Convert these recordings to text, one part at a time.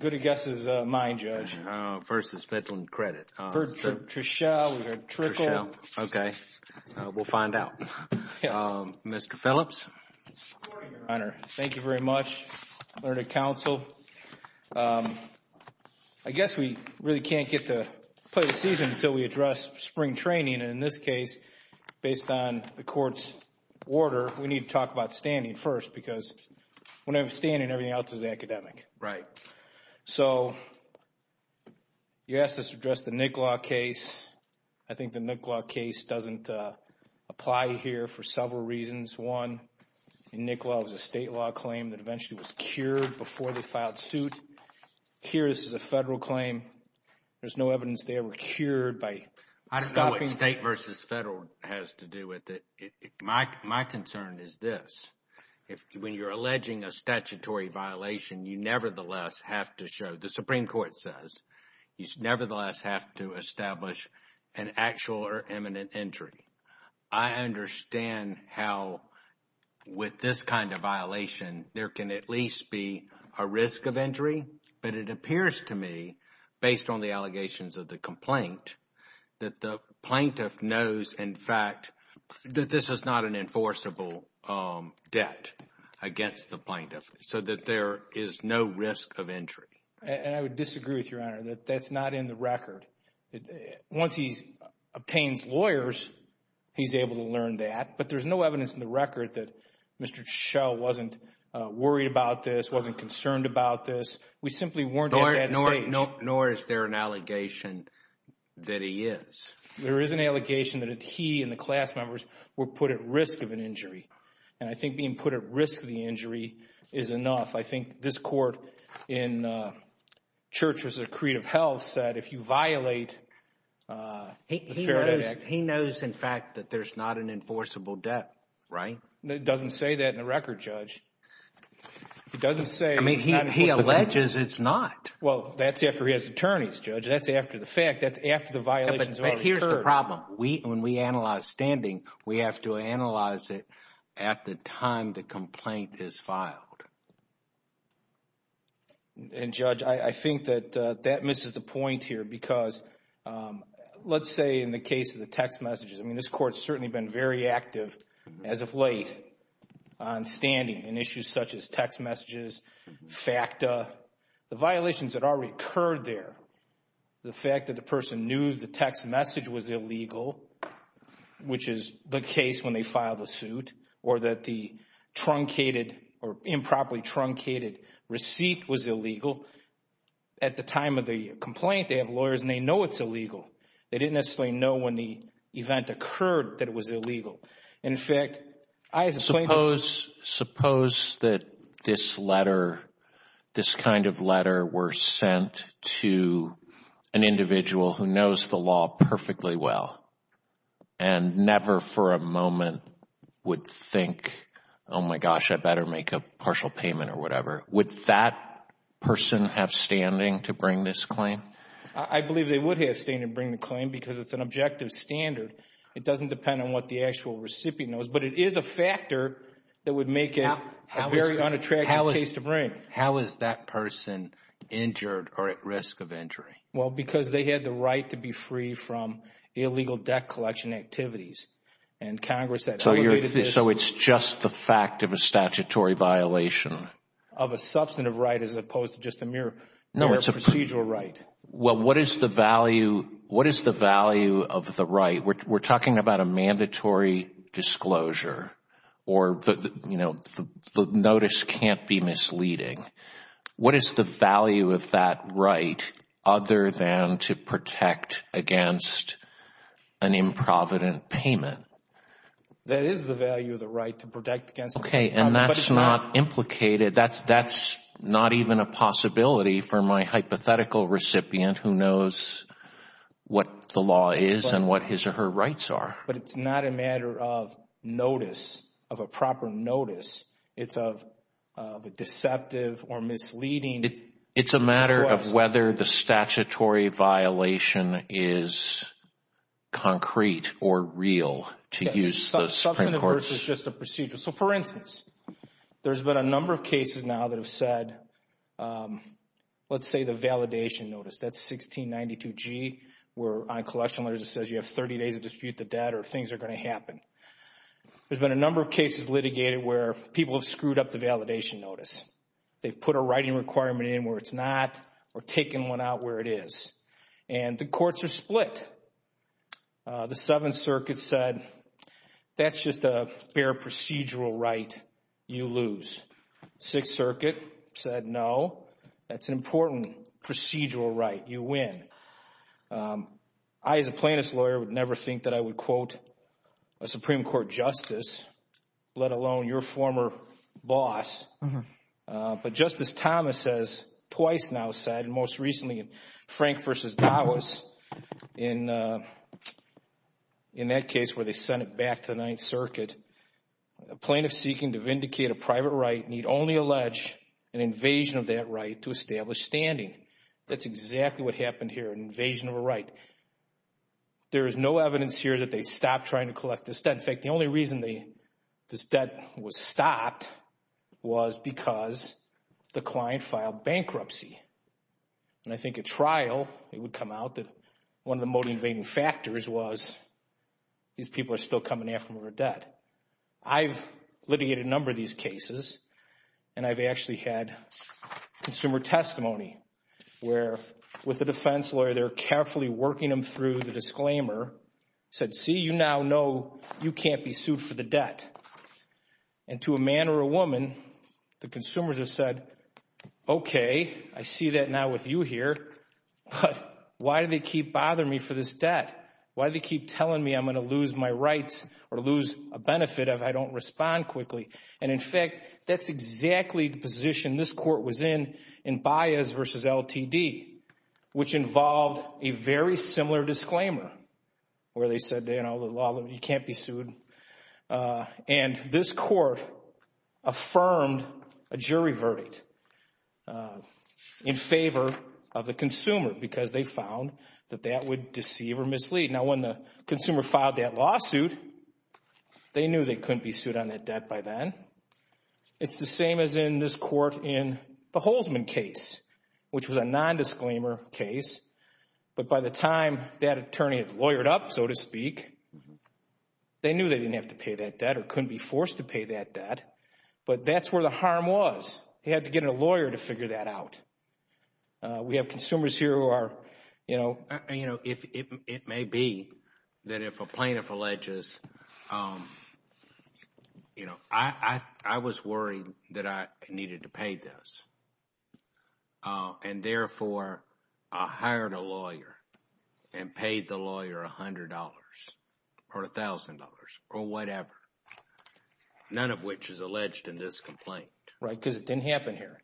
Good to guess is mine, Judge. First is Midland Credit. Trichell, we've got Trickle. Okay, we'll find out. Mr. Phillips. Good morning, Your Honor. Thank you very much. Learned of counsel. I guess we really can't get to play the season until we address spring training, and in this case based on the court's order we need to talk about standing first because when I'm standing everything else is academic. Right. So, you asked us to address the Nick Law case. I think the Nick Law case doesn't apply here for several reasons. One, in Nick Law it was a state law claim that eventually was cured before they filed suit. Here this is a federal claim. There's no evidence they were cured by stopping... I don't know what state versus federal has to do with it. My concern is this. When you're alleging a statutory violation, you nevertheless have to show, the Supreme Court says, you nevertheless have to establish an actual or imminent injury. I understand how with this kind of violation there can at least be a risk of injury, but it appears to me, based on the allegations of the complaint, that the plaintiff knows in fact that this is not an enforceable debt against the plaintiff so that there is no risk of injury. And I would disagree with you, Your Honor, that that's not in the record. Once he obtains lawyers, he's able to learn that, but there's no evidence in the record that Mr. Schell wasn't worried about this, wasn't concerned about this. We simply weren't at that stage. Nor is there an allegation that he is. There is an allegation that he and the class members were put at risk of an injury. And I think being put at risk of the injury is enough. I think this Court in Church v. Creative Health said if you violate the Fair Debt Act... He knows, in fact, that there's not an enforceable debt, right? It doesn't say that in the record, Judge. It doesn't say... He alleges it's not. Well, that's after he has attorneys, Judge. That's after the fact. That's after the violations already occurred. Here's the problem. When we analyze standing, we have to analyze it at the time the complaint is filed. And, Judge, I think that that misses the point here because let's say in the case of the text messages, I mean, this Court's certainly been very active, as of late, on standing on issues such as text messages, FACTA. The violations that already occurred there, the fact that the person knew the text message was illegal, which is the case when they file the suit, or that the truncated or improperly truncated receipt was illegal. At the time of the complaint, they have lawyers and they know it's illegal. They didn't necessarily know when the event occurred that it was illegal. In fact, I, as a plaintiff... Suppose that this letter, this kind of letter, were sent to an individual who knows the law perfectly well and never for a moment would think, oh my gosh, I better make a partial payment or whatever. Would that person have standing to bring this claim? I believe they would have standing to bring the claim because it's an objective standard. It doesn't depend on what the actual recipient knows, but it is a factor that would make it a very unattractive case to bring. How is that person injured or at risk of injury? Because they had the right to be free from illegal debt collection activities. So it's just the fact of a statutory violation? Of a substantive right as opposed to just a mere procedural right. What is the value of the right? We're talking about a mandatory disclosure or the notice can't be misleading. What is the value of that right other than to protect against an improvident payment? That is the value of the right to protect against an improvident payment. That's not even a possibility for my hypothetical recipient who knows what the law is and what his or her rights are. But it's not a matter of notice, of a proper notice. It's of a deceptive or misleading... It's a matter of whether the statutory violation is or real to use the Supreme Court's... Substantive versus just a procedural. For instance, there's been a number of cases now that have said, let's say the validation notice, that's 1692G where on collection letters it says you have 30 days to dispute the debt or things are going to happen. There's been a number of cases litigated where people have screwed up the validation notice. They've put a writing requirement in where it's not or taken one out where it is. And the courts are split. The Seventh Circuit said, that's just a bare procedural right you lose. Sixth Circuit said, no. That's an important procedural right you win. I as a plaintiff's lawyer would never think that I would quote a Supreme Court justice, let alone your former boss. But Justice Thomas has twice now said, most recently in Frank v. Gawas, in that case where they sent it back to the Ninth Circuit, a plaintiff seeking to vindicate a private right need only allege an invasion of that right to establish standing. That's exactly what happened here, an invasion of a right. There is no evidence here that they stopped trying to collect this debt. In fact, the only reason this debt was stopped was because the client filed bankruptcy. And I think at trial it would come out that one of the motivating factors was these people are still coming after them with their debt. I've litigated a number of these cases and I've actually had consumer testimony where with a defense lawyer, they're carefully working them through the disclaimer, said, see, you now know you can't be sued for the debt. And to a man or a woman, the consumers have said, okay, I see that now with you here, but why do they keep bothering me for this debt? Why do they keep telling me I'm going to lose my rights or lose a benefit if I don't respond quickly? And in fact, that's exactly the position this court was in in Baez v. Ltd., which involved a very similar disclaimer where they said, you know, you can't be sued. And this court affirmed a jury verdict in favor of the consumer because they found that that would deceive or mislead. Now when the consumer filed that lawsuit, they knew they couldn't be sued on that debt by then. It's the same as what was in this court in the Holzman case, which was a non-disclaimer case. But by the time that attorney had lawyered up, so to speak, they knew they didn't have to pay that debt or couldn't be forced to pay that debt. But that's where the harm was. They had to get a lawyer to figure that out. We have consumers here who are, you know... It may be that if a plaintiff alleges... You know, I was worried that I needed to pay this. And therefore, I hired a lawyer and paid the lawyer $100 or $1,000 or whatever, none of which is alleged in this complaint. Right, because it didn't happen here.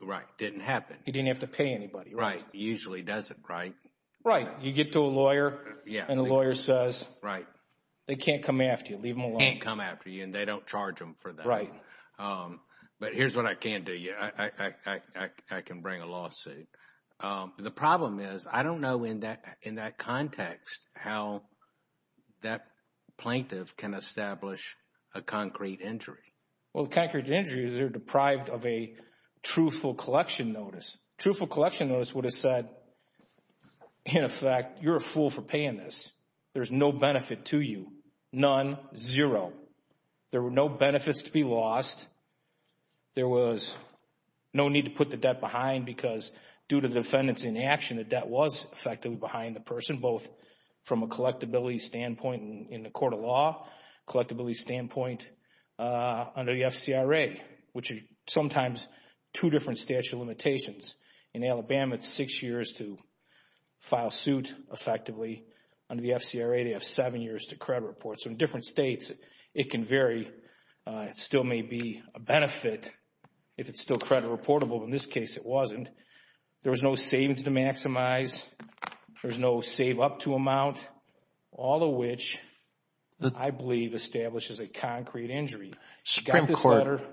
Right, it didn't happen. You didn't have to pay anybody. Right. It usually doesn't, right? Right. You get to a lawyer and the lawyer says, they can't come after you. They can't come after you and they don't charge them for that. But here's what I can do. I can bring a lawsuit. The problem is, I don't know in that context how that plaintiff can establish a concrete injury. Well, concrete injuries are deprived of a truthful collection notice. A truthful collection notice would have said, in effect, you're a fool for paying this. There's no benefit to you. None. Zero. There were no benefits to be lost. There was no need to put the debt behind because due to the defendant's inaction, the debt was effectively behind the person, both from a collectability standpoint in the court of law, collectability standpoint under the FCRA, which is sometimes two different statute of limitations. In Alabama, it's six years to file suit effectively. Under the FCRA, they have seven years to credit report. So in different states, it can vary. It still may be a benefit if it's still credit reportable. In this case, it wasn't. There was no savings to maximize. There was no save up to amount. All of which I believe establishes a concrete injury. Supreme Court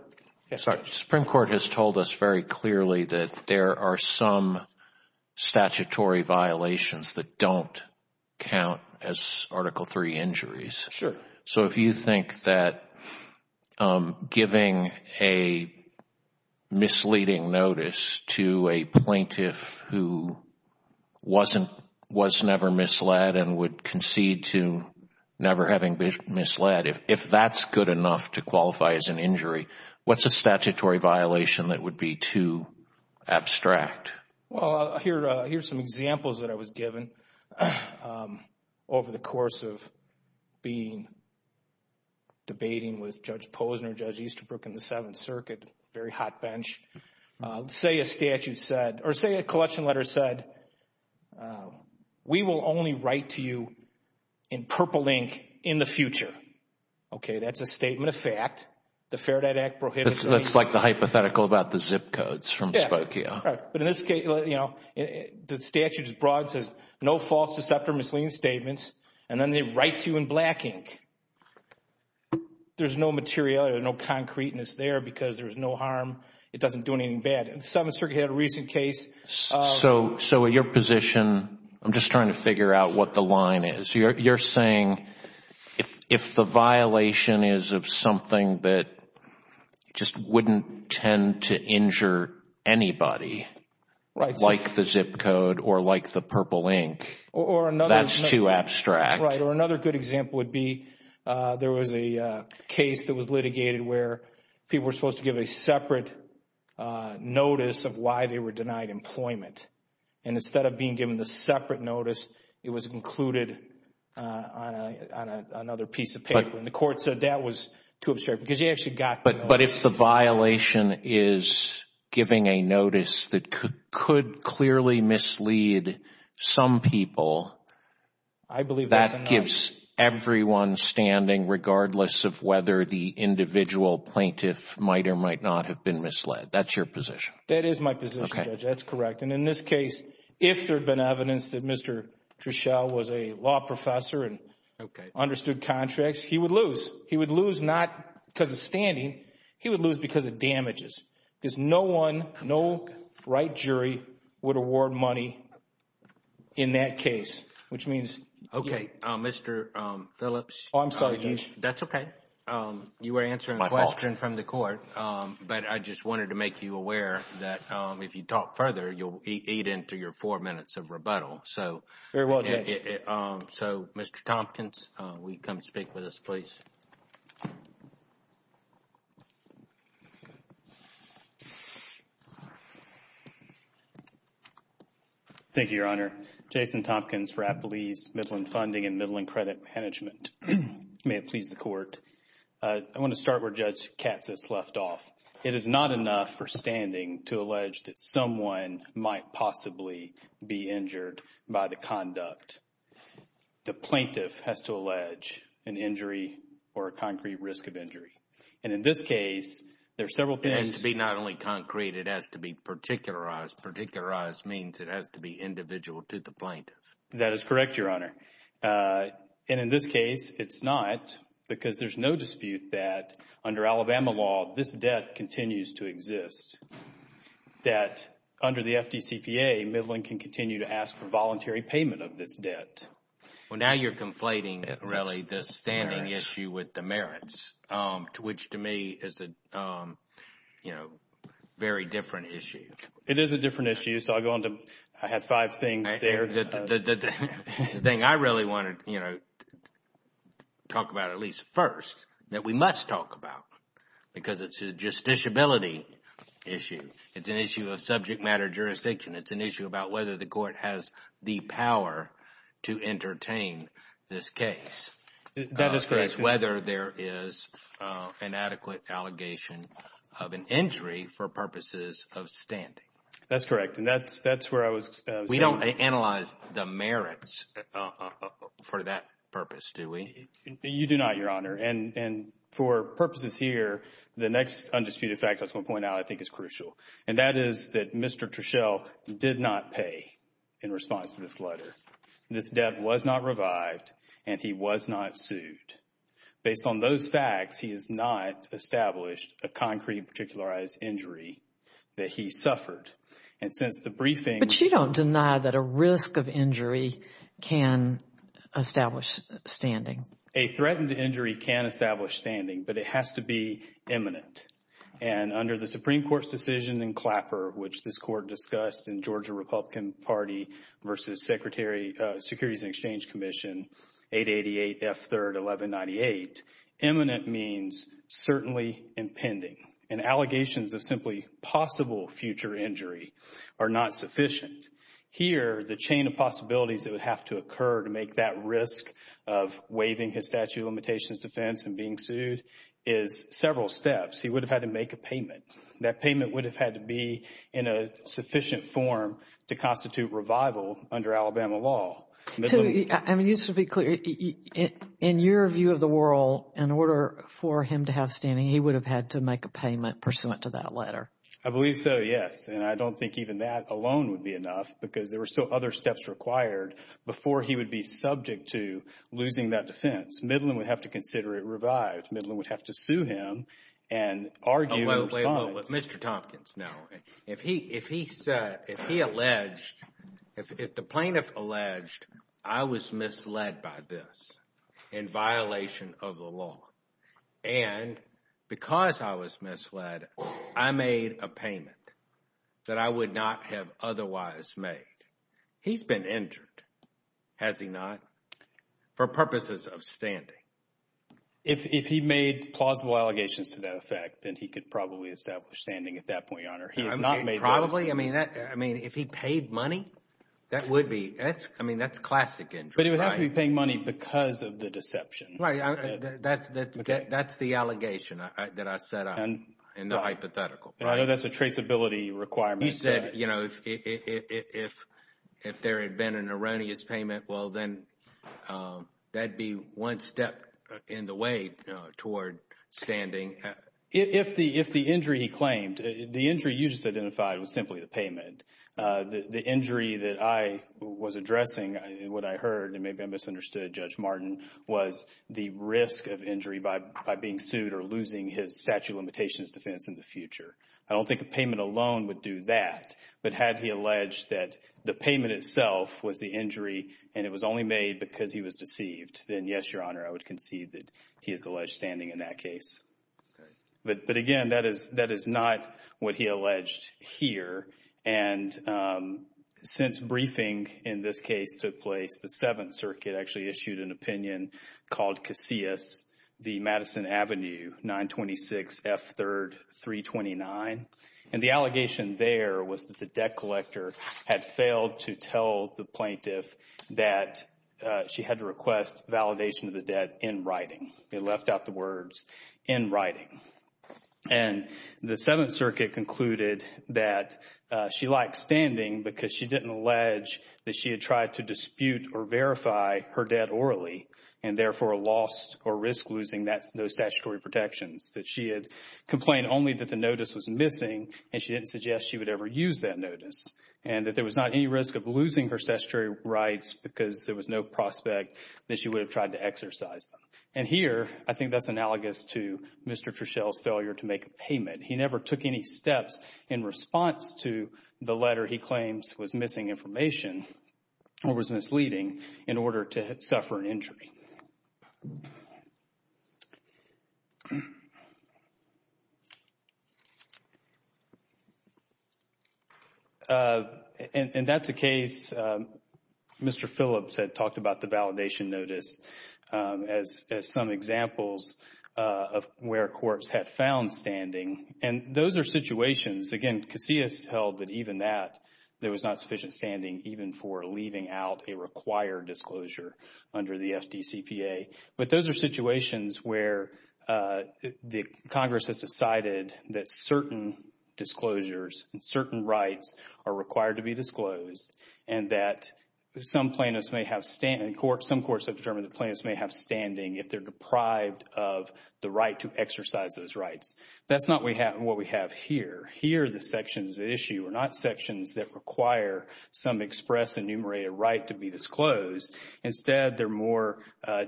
has told us very clearly that there are some statutory violations that don't count as Article III injuries. If you think that giving a misleading notice to a plaintiff who was never misled and would concede to never having been misled, if that's good enough to qualify as an injury, what's a statutory violation that would be too abstract? Here's some examples that I was given over the course of being debating with Judge Posner, Judge Easterbrook, and the Seventh Circuit. Very hot bench. Say a statute said, or say a collection letter said, we will only write to you in purple ink in the future. That's a statement of fact. The Faraday Act prohibited it. That's like the hypothetical about the zip codes from Spokia. The statute is broad. It says no false, deceptive, or misleading statements, and then they write to you in black ink. There's no materiality, no concreteness there because there's no harm. It doesn't do anything bad. The Seventh Circuit had a recent case. Your position, I'm just trying to figure out what the line is. You're saying if the violation is of something that just wouldn't tend to injure anybody like the zip code or like the purple ink, that's too abstract. Another good example would be there was a case that was litigated where people were supposed to give a separate notice of why they were denied employment. Instead of being given the separate notice, it was included on another piece of paper. The court said that was too abstract because you actually got the notice. But if the violation is giving a notice that could clearly mislead some people, that gives everyone standing regardless of whether the individual plaintiff might or might not have been misled. That's your position. That is my position, Judge. That's correct. In this case, if there had been evidence that Mr. Treshelle was a law professor and understood contracts, he would lose. He would lose not because of standing. He would lose because of damages. Because no one, no right jury would award money in that case. Which means... Okay. Mr. Phillips... Oh, I'm sorry, Judge. That's okay. You were answering the question from the court. But I just wanted to make you aware that if you talk further, you'll have another four minutes of rebuttal. Very well, Judge. Mr. Tompkins, will you come speak with us, please? Thank you, Your Honor. Jason Tompkins for Appalese Midland Funding and Midland Credit Management. May it please the Court. I want to start where Judge Katz has left off. It is not enough for standing to allege that someone might possibly be injured by the conduct. The plaintiff has to allege an injury or a concrete risk of injury. And in this case, there are several things... It has to be not only concrete, it has to be particularized. Particularized means it has to be individual to the plaintiff. That is correct, Your Honor. And in this case, it's not. Because there's no dispute that under Alabama law, this debt continues to exist, that under the FDCPA, Midland can continue to ask for voluntary payment of this debt. Well, now you're conflating, really, the standing issue with the merits, which to me is a very different issue. It is a different issue, so I'll go on to... I have five things there. The thing I really want to talk about, at least first, that we must talk about because it's a justiciability issue. It's an issue of subject matter jurisdiction. It's an issue about whether the court has the power to entertain this case. That is correct. Whether there is an adequate allegation of an injury for purposes of standing. That's correct. And that's where I was... We don't analyze the merits for that purpose, do we? You do not, Your Honor. And for purposes here, the next undisputed fact I was going to point out I think is crucial. And that is that Mr. Treshelle did not pay in response to this letter. This debt was not revived and he was not sued. Based on those facts, he has not established a concrete and particularized injury that he suffered. And since the briefing... But you don't deny that a risk of injury can establish standing. A threatened injury can establish standing, but it has to be imminent. And under the Supreme Court's decision in Clapper, which this Court discussed in Georgia Republican Party versus Securities and Exchange Commission, 888 F. 3rd 1198, imminent means certainly impending. And allegations of simply possible future injury are not sufficient. Here, the chain of possibilities that would have to occur to make that risk of waiving his statute of limitations defense and being sued is several steps. He would have had to make a payment. That payment would have had to be in a sufficient form to constitute revival under Alabama law. Just to be clear, in your view of the world, in order for him to have standing, he would have had to make a payment pursuant to that letter. I believe so, yes. And I don't think even that alone would be enough because there were so other steps required before he would be subject to losing that defense. Midland would have to consider it revived. Midland would have to sue him and argue in response. Mr. Tompkins, no. If he alleged, if the plaintiff alleged, I was misled by this in violation of the law and because I was misled, I made a payment that I He's been injured, has he not, for purposes of standing. If he made plausible allegations to that effect, then he could probably establish standing at that point, Your Honor. Probably. I mean, if he paid money, that would be I mean, that's classic injury. But he would have to be paying money because of the deception. That's the allegation that I set up in the hypothetical. I know that's a traceability requirement. You said, you know, if there had been an erroneous payment, well then that'd be one step in the way toward standing. If the injury he claimed, the injury you just identified was simply the payment. The injury that I was addressing, what I heard and maybe I misunderstood Judge Martin, was the risk of injury by being sued or losing his statute of limitations defense in the future. I don't think a payment alone would do that. But had he alleged that the payment itself was the injury and it was only made because he was deceived, then yes, Your Honor, I would concede that he is alleged standing in that case. But again, that is not what he alleged here. And since briefing in this case took place, the Seventh Circuit actually issued an opinion called Casillas v. Madison Avenue, 926 F. 3rd 329. And the allegation there was that the debt collector had failed to tell the plaintiff that she had to request validation of the debt in writing. They left out the words in writing. And the Seventh Circuit concluded that she lacked standing because she didn't allege that she had tried to dispute or verify her debt orally and therefore lost or risked losing those statutory protections. That she had complained only that the notice was missing and she didn't suggest she would ever use that notice. And that there was not any risk of losing her statutory rights because there was no prospect that she would have tried to exercise them. And here, I think that's analogous to Mr. Treshell's failure to make a payment. He never took any steps in response to the letter he claims was missing information or was misleading in order to suffer an injury. And that's a case Mr. Phillips had talked about the validation notice as some examples of where courts had found standing. And those are situations, again, Casillas held that even that, there was not sufficient standing even for leaving those are situations where the courts have found that there was not sufficient standing where the Congress has decided that certain disclosures and certain rights are required to be disclosed and that some plaintiffs may have, some courts have determined that plaintiffs may have standing if they're deprived of the right to exercise those rights. That's not what we have here. Here, the section's issue are not sections that require some express enumerated right to be disclosed. Instead, they're more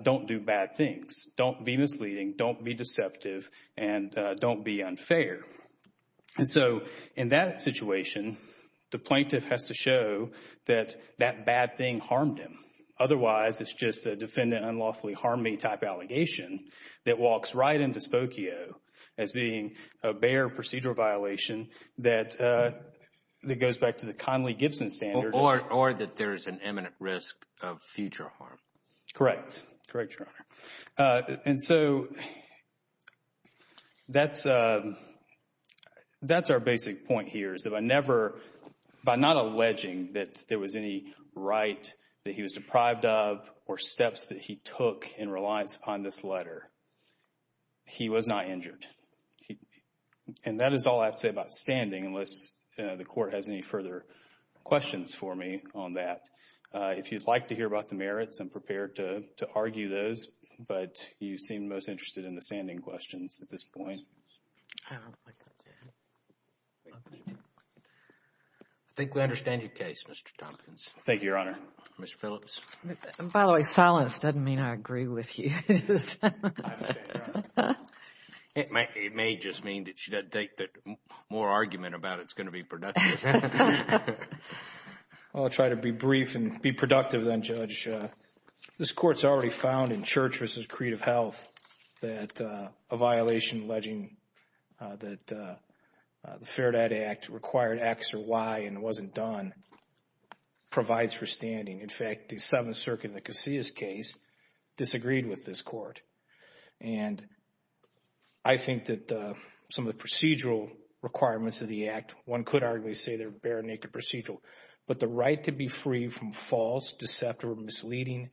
don't do bad things. Don't be misleading. Don't be deceptive. And don't be unfair. And so, in that situation, the plaintiff has to show that that bad thing harmed him. Otherwise, it's just a defendant unlawfully harmed me type allegation that walks right into Spokio as being a bare procedural violation that goes back to the Conley-Gibson standard. Or that there's an imminent risk of future harm. Correct. Correct, Your Honor. And so, that's our basic point here is if I never, by not alleging that there was any right that he was deprived of or steps that he took in reliance upon this letter, he was not injured. And that is all I have to say about standing unless the court has any further questions for me on that. If you'd like to hear about the merits, I'm prepared to argue those, but you seem most interested in the standing questions at this point. Thank you. I think we understand your case, Mr. Tompkins. Thank you, Your Honor. Mr. Phillips. By the way, silence doesn't mean I agree with you. I understand. It may just mean that she doesn't take more argument about it's going to be productive. I'll try to be brief and be productive then, Judge. This Court's already found in Church v. Creative Health that a violation alleging that the Fair Debt Act required X or Y and it wasn't done provides for standing. In fact, the Seventh Circuit in the Casillas case disagreed with this Court. And I think that some of the procedural requirements of the Act, one could arguably say they're bare naked procedural, but the right to be free from false, deceptive or misleading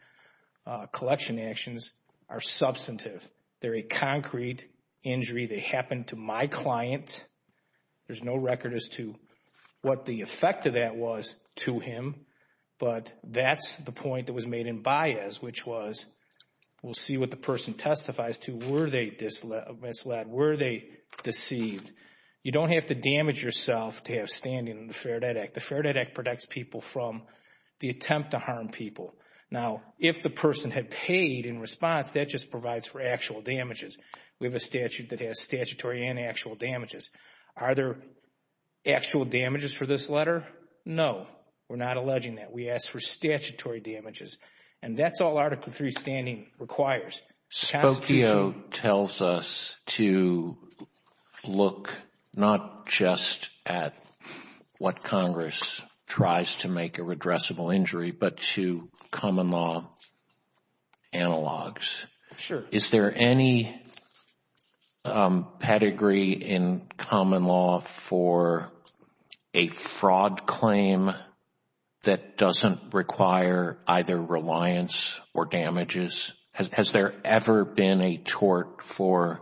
collection actions are substantive. They're a concrete injury. They happened to my client. There's no record as to what the effect of that was to him, but that's the point that was made in Baez, which was, we'll see what the person testifies to. Were they misled? Were they deceived? You don't have to damage yourself to have standing in the Fair Debt Act. The Fair Debt Act protects people from the attempt to harm people. Now, if the person had paid in response, that just provides for actual damages. We have a statute that has statutory and actual damages. Are there actual damages for this letter? No. We're not alleging that. We ask for statutory damages. And that's all Article III standing requires. Spokio tells us to look not just at what Congress tries to make a redressable injury, but to common law analogs. Is there any pedigree in common law for a fraud claim that doesn't require either reliance or damages? Has there ever been a tort for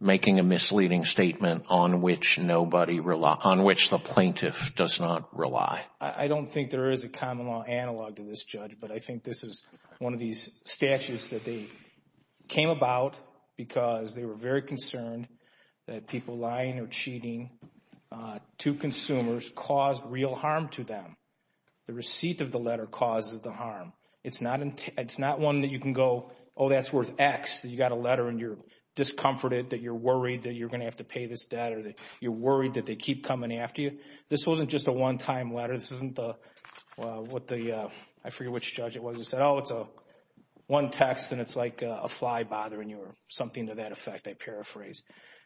making a misleading statement on which the plaintiff does not rely? I don't think there is a common law analog to this judge, but I think this is one of these statutes that they came about because they were very concerned that people lying or cheating to consumers caused real harm to them. The receipt of the letter causes the harm. It's not one that you can go, oh, that's worth X. You got a letter and you're discomfited that you're worried that you're going to have to pay this debt or that you're worried that they keep coming after you. This wasn't just a one-time letter. This isn't what the I forget which judge it was that said, oh, it's one text and it's like a fly bothering you or something to that effect, I paraphrase.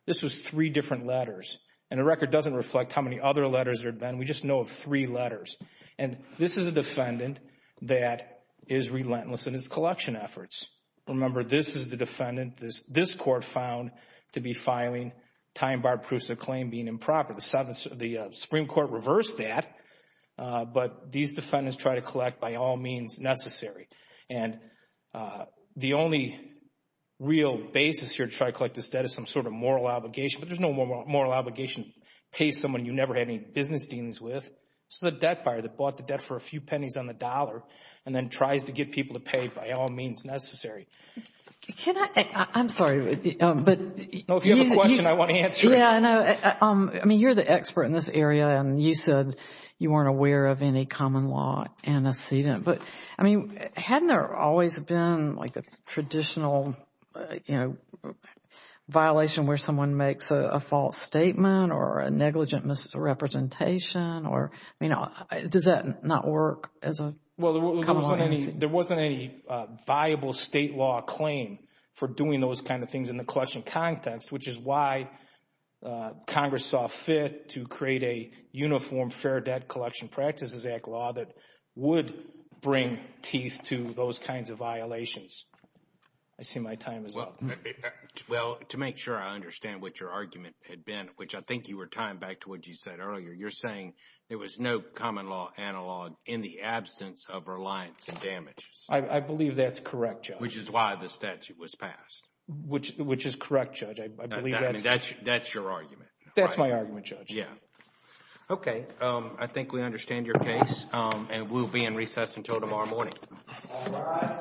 This was three different letters. And the record doesn't reflect how many other letters there have been. We just know of three letters. And this is a defendant that is relentless in his collection efforts. Remember, this is the defendant this court found to be filing time-bar proofs of claim being improper. The Supreme Court reversed that, but these defendants try to collect by all means necessary. And the only real basis here to try to collect this debt is some sort of moral obligation, but there's no moral obligation to pay someone you never had any business dealings with. This is a debt buyer that bought the debt for a few pennies on the dollar and then tries to get people to pay by all means necessary. Can I, I'm sorry, but No, if you have a question, I want to answer it. Yeah, I know. I mean, you're the expert in this area and you said you weren't aware of any common law antecedent, but I mean hadn't there always been a traditional violation where someone makes a false statement or a negligent misrepresentation or, you know, does that not work as a common law antecedent? Well, there wasn't any viable state law claim for doing those kind of things in the collection context, which is why Congress saw fit to create a uniform Fair Debt Collection Practices Act law that would bring teeth to those kinds of violations. I see my time is up. Well, to make sure I understand what your argument had been, which I think you were tying back to what you said earlier, you're saying there was no common law analog in the absence of reliance on damages. I believe that's correct, Judge. Which is why the statute was passed. Which is correct, Judge. I believe that's... I mean, that's your argument. That's my argument, Judge. Yeah. Okay, I think we understand your case and we'll be in recess until tomorrow morning. All rise. Thank you.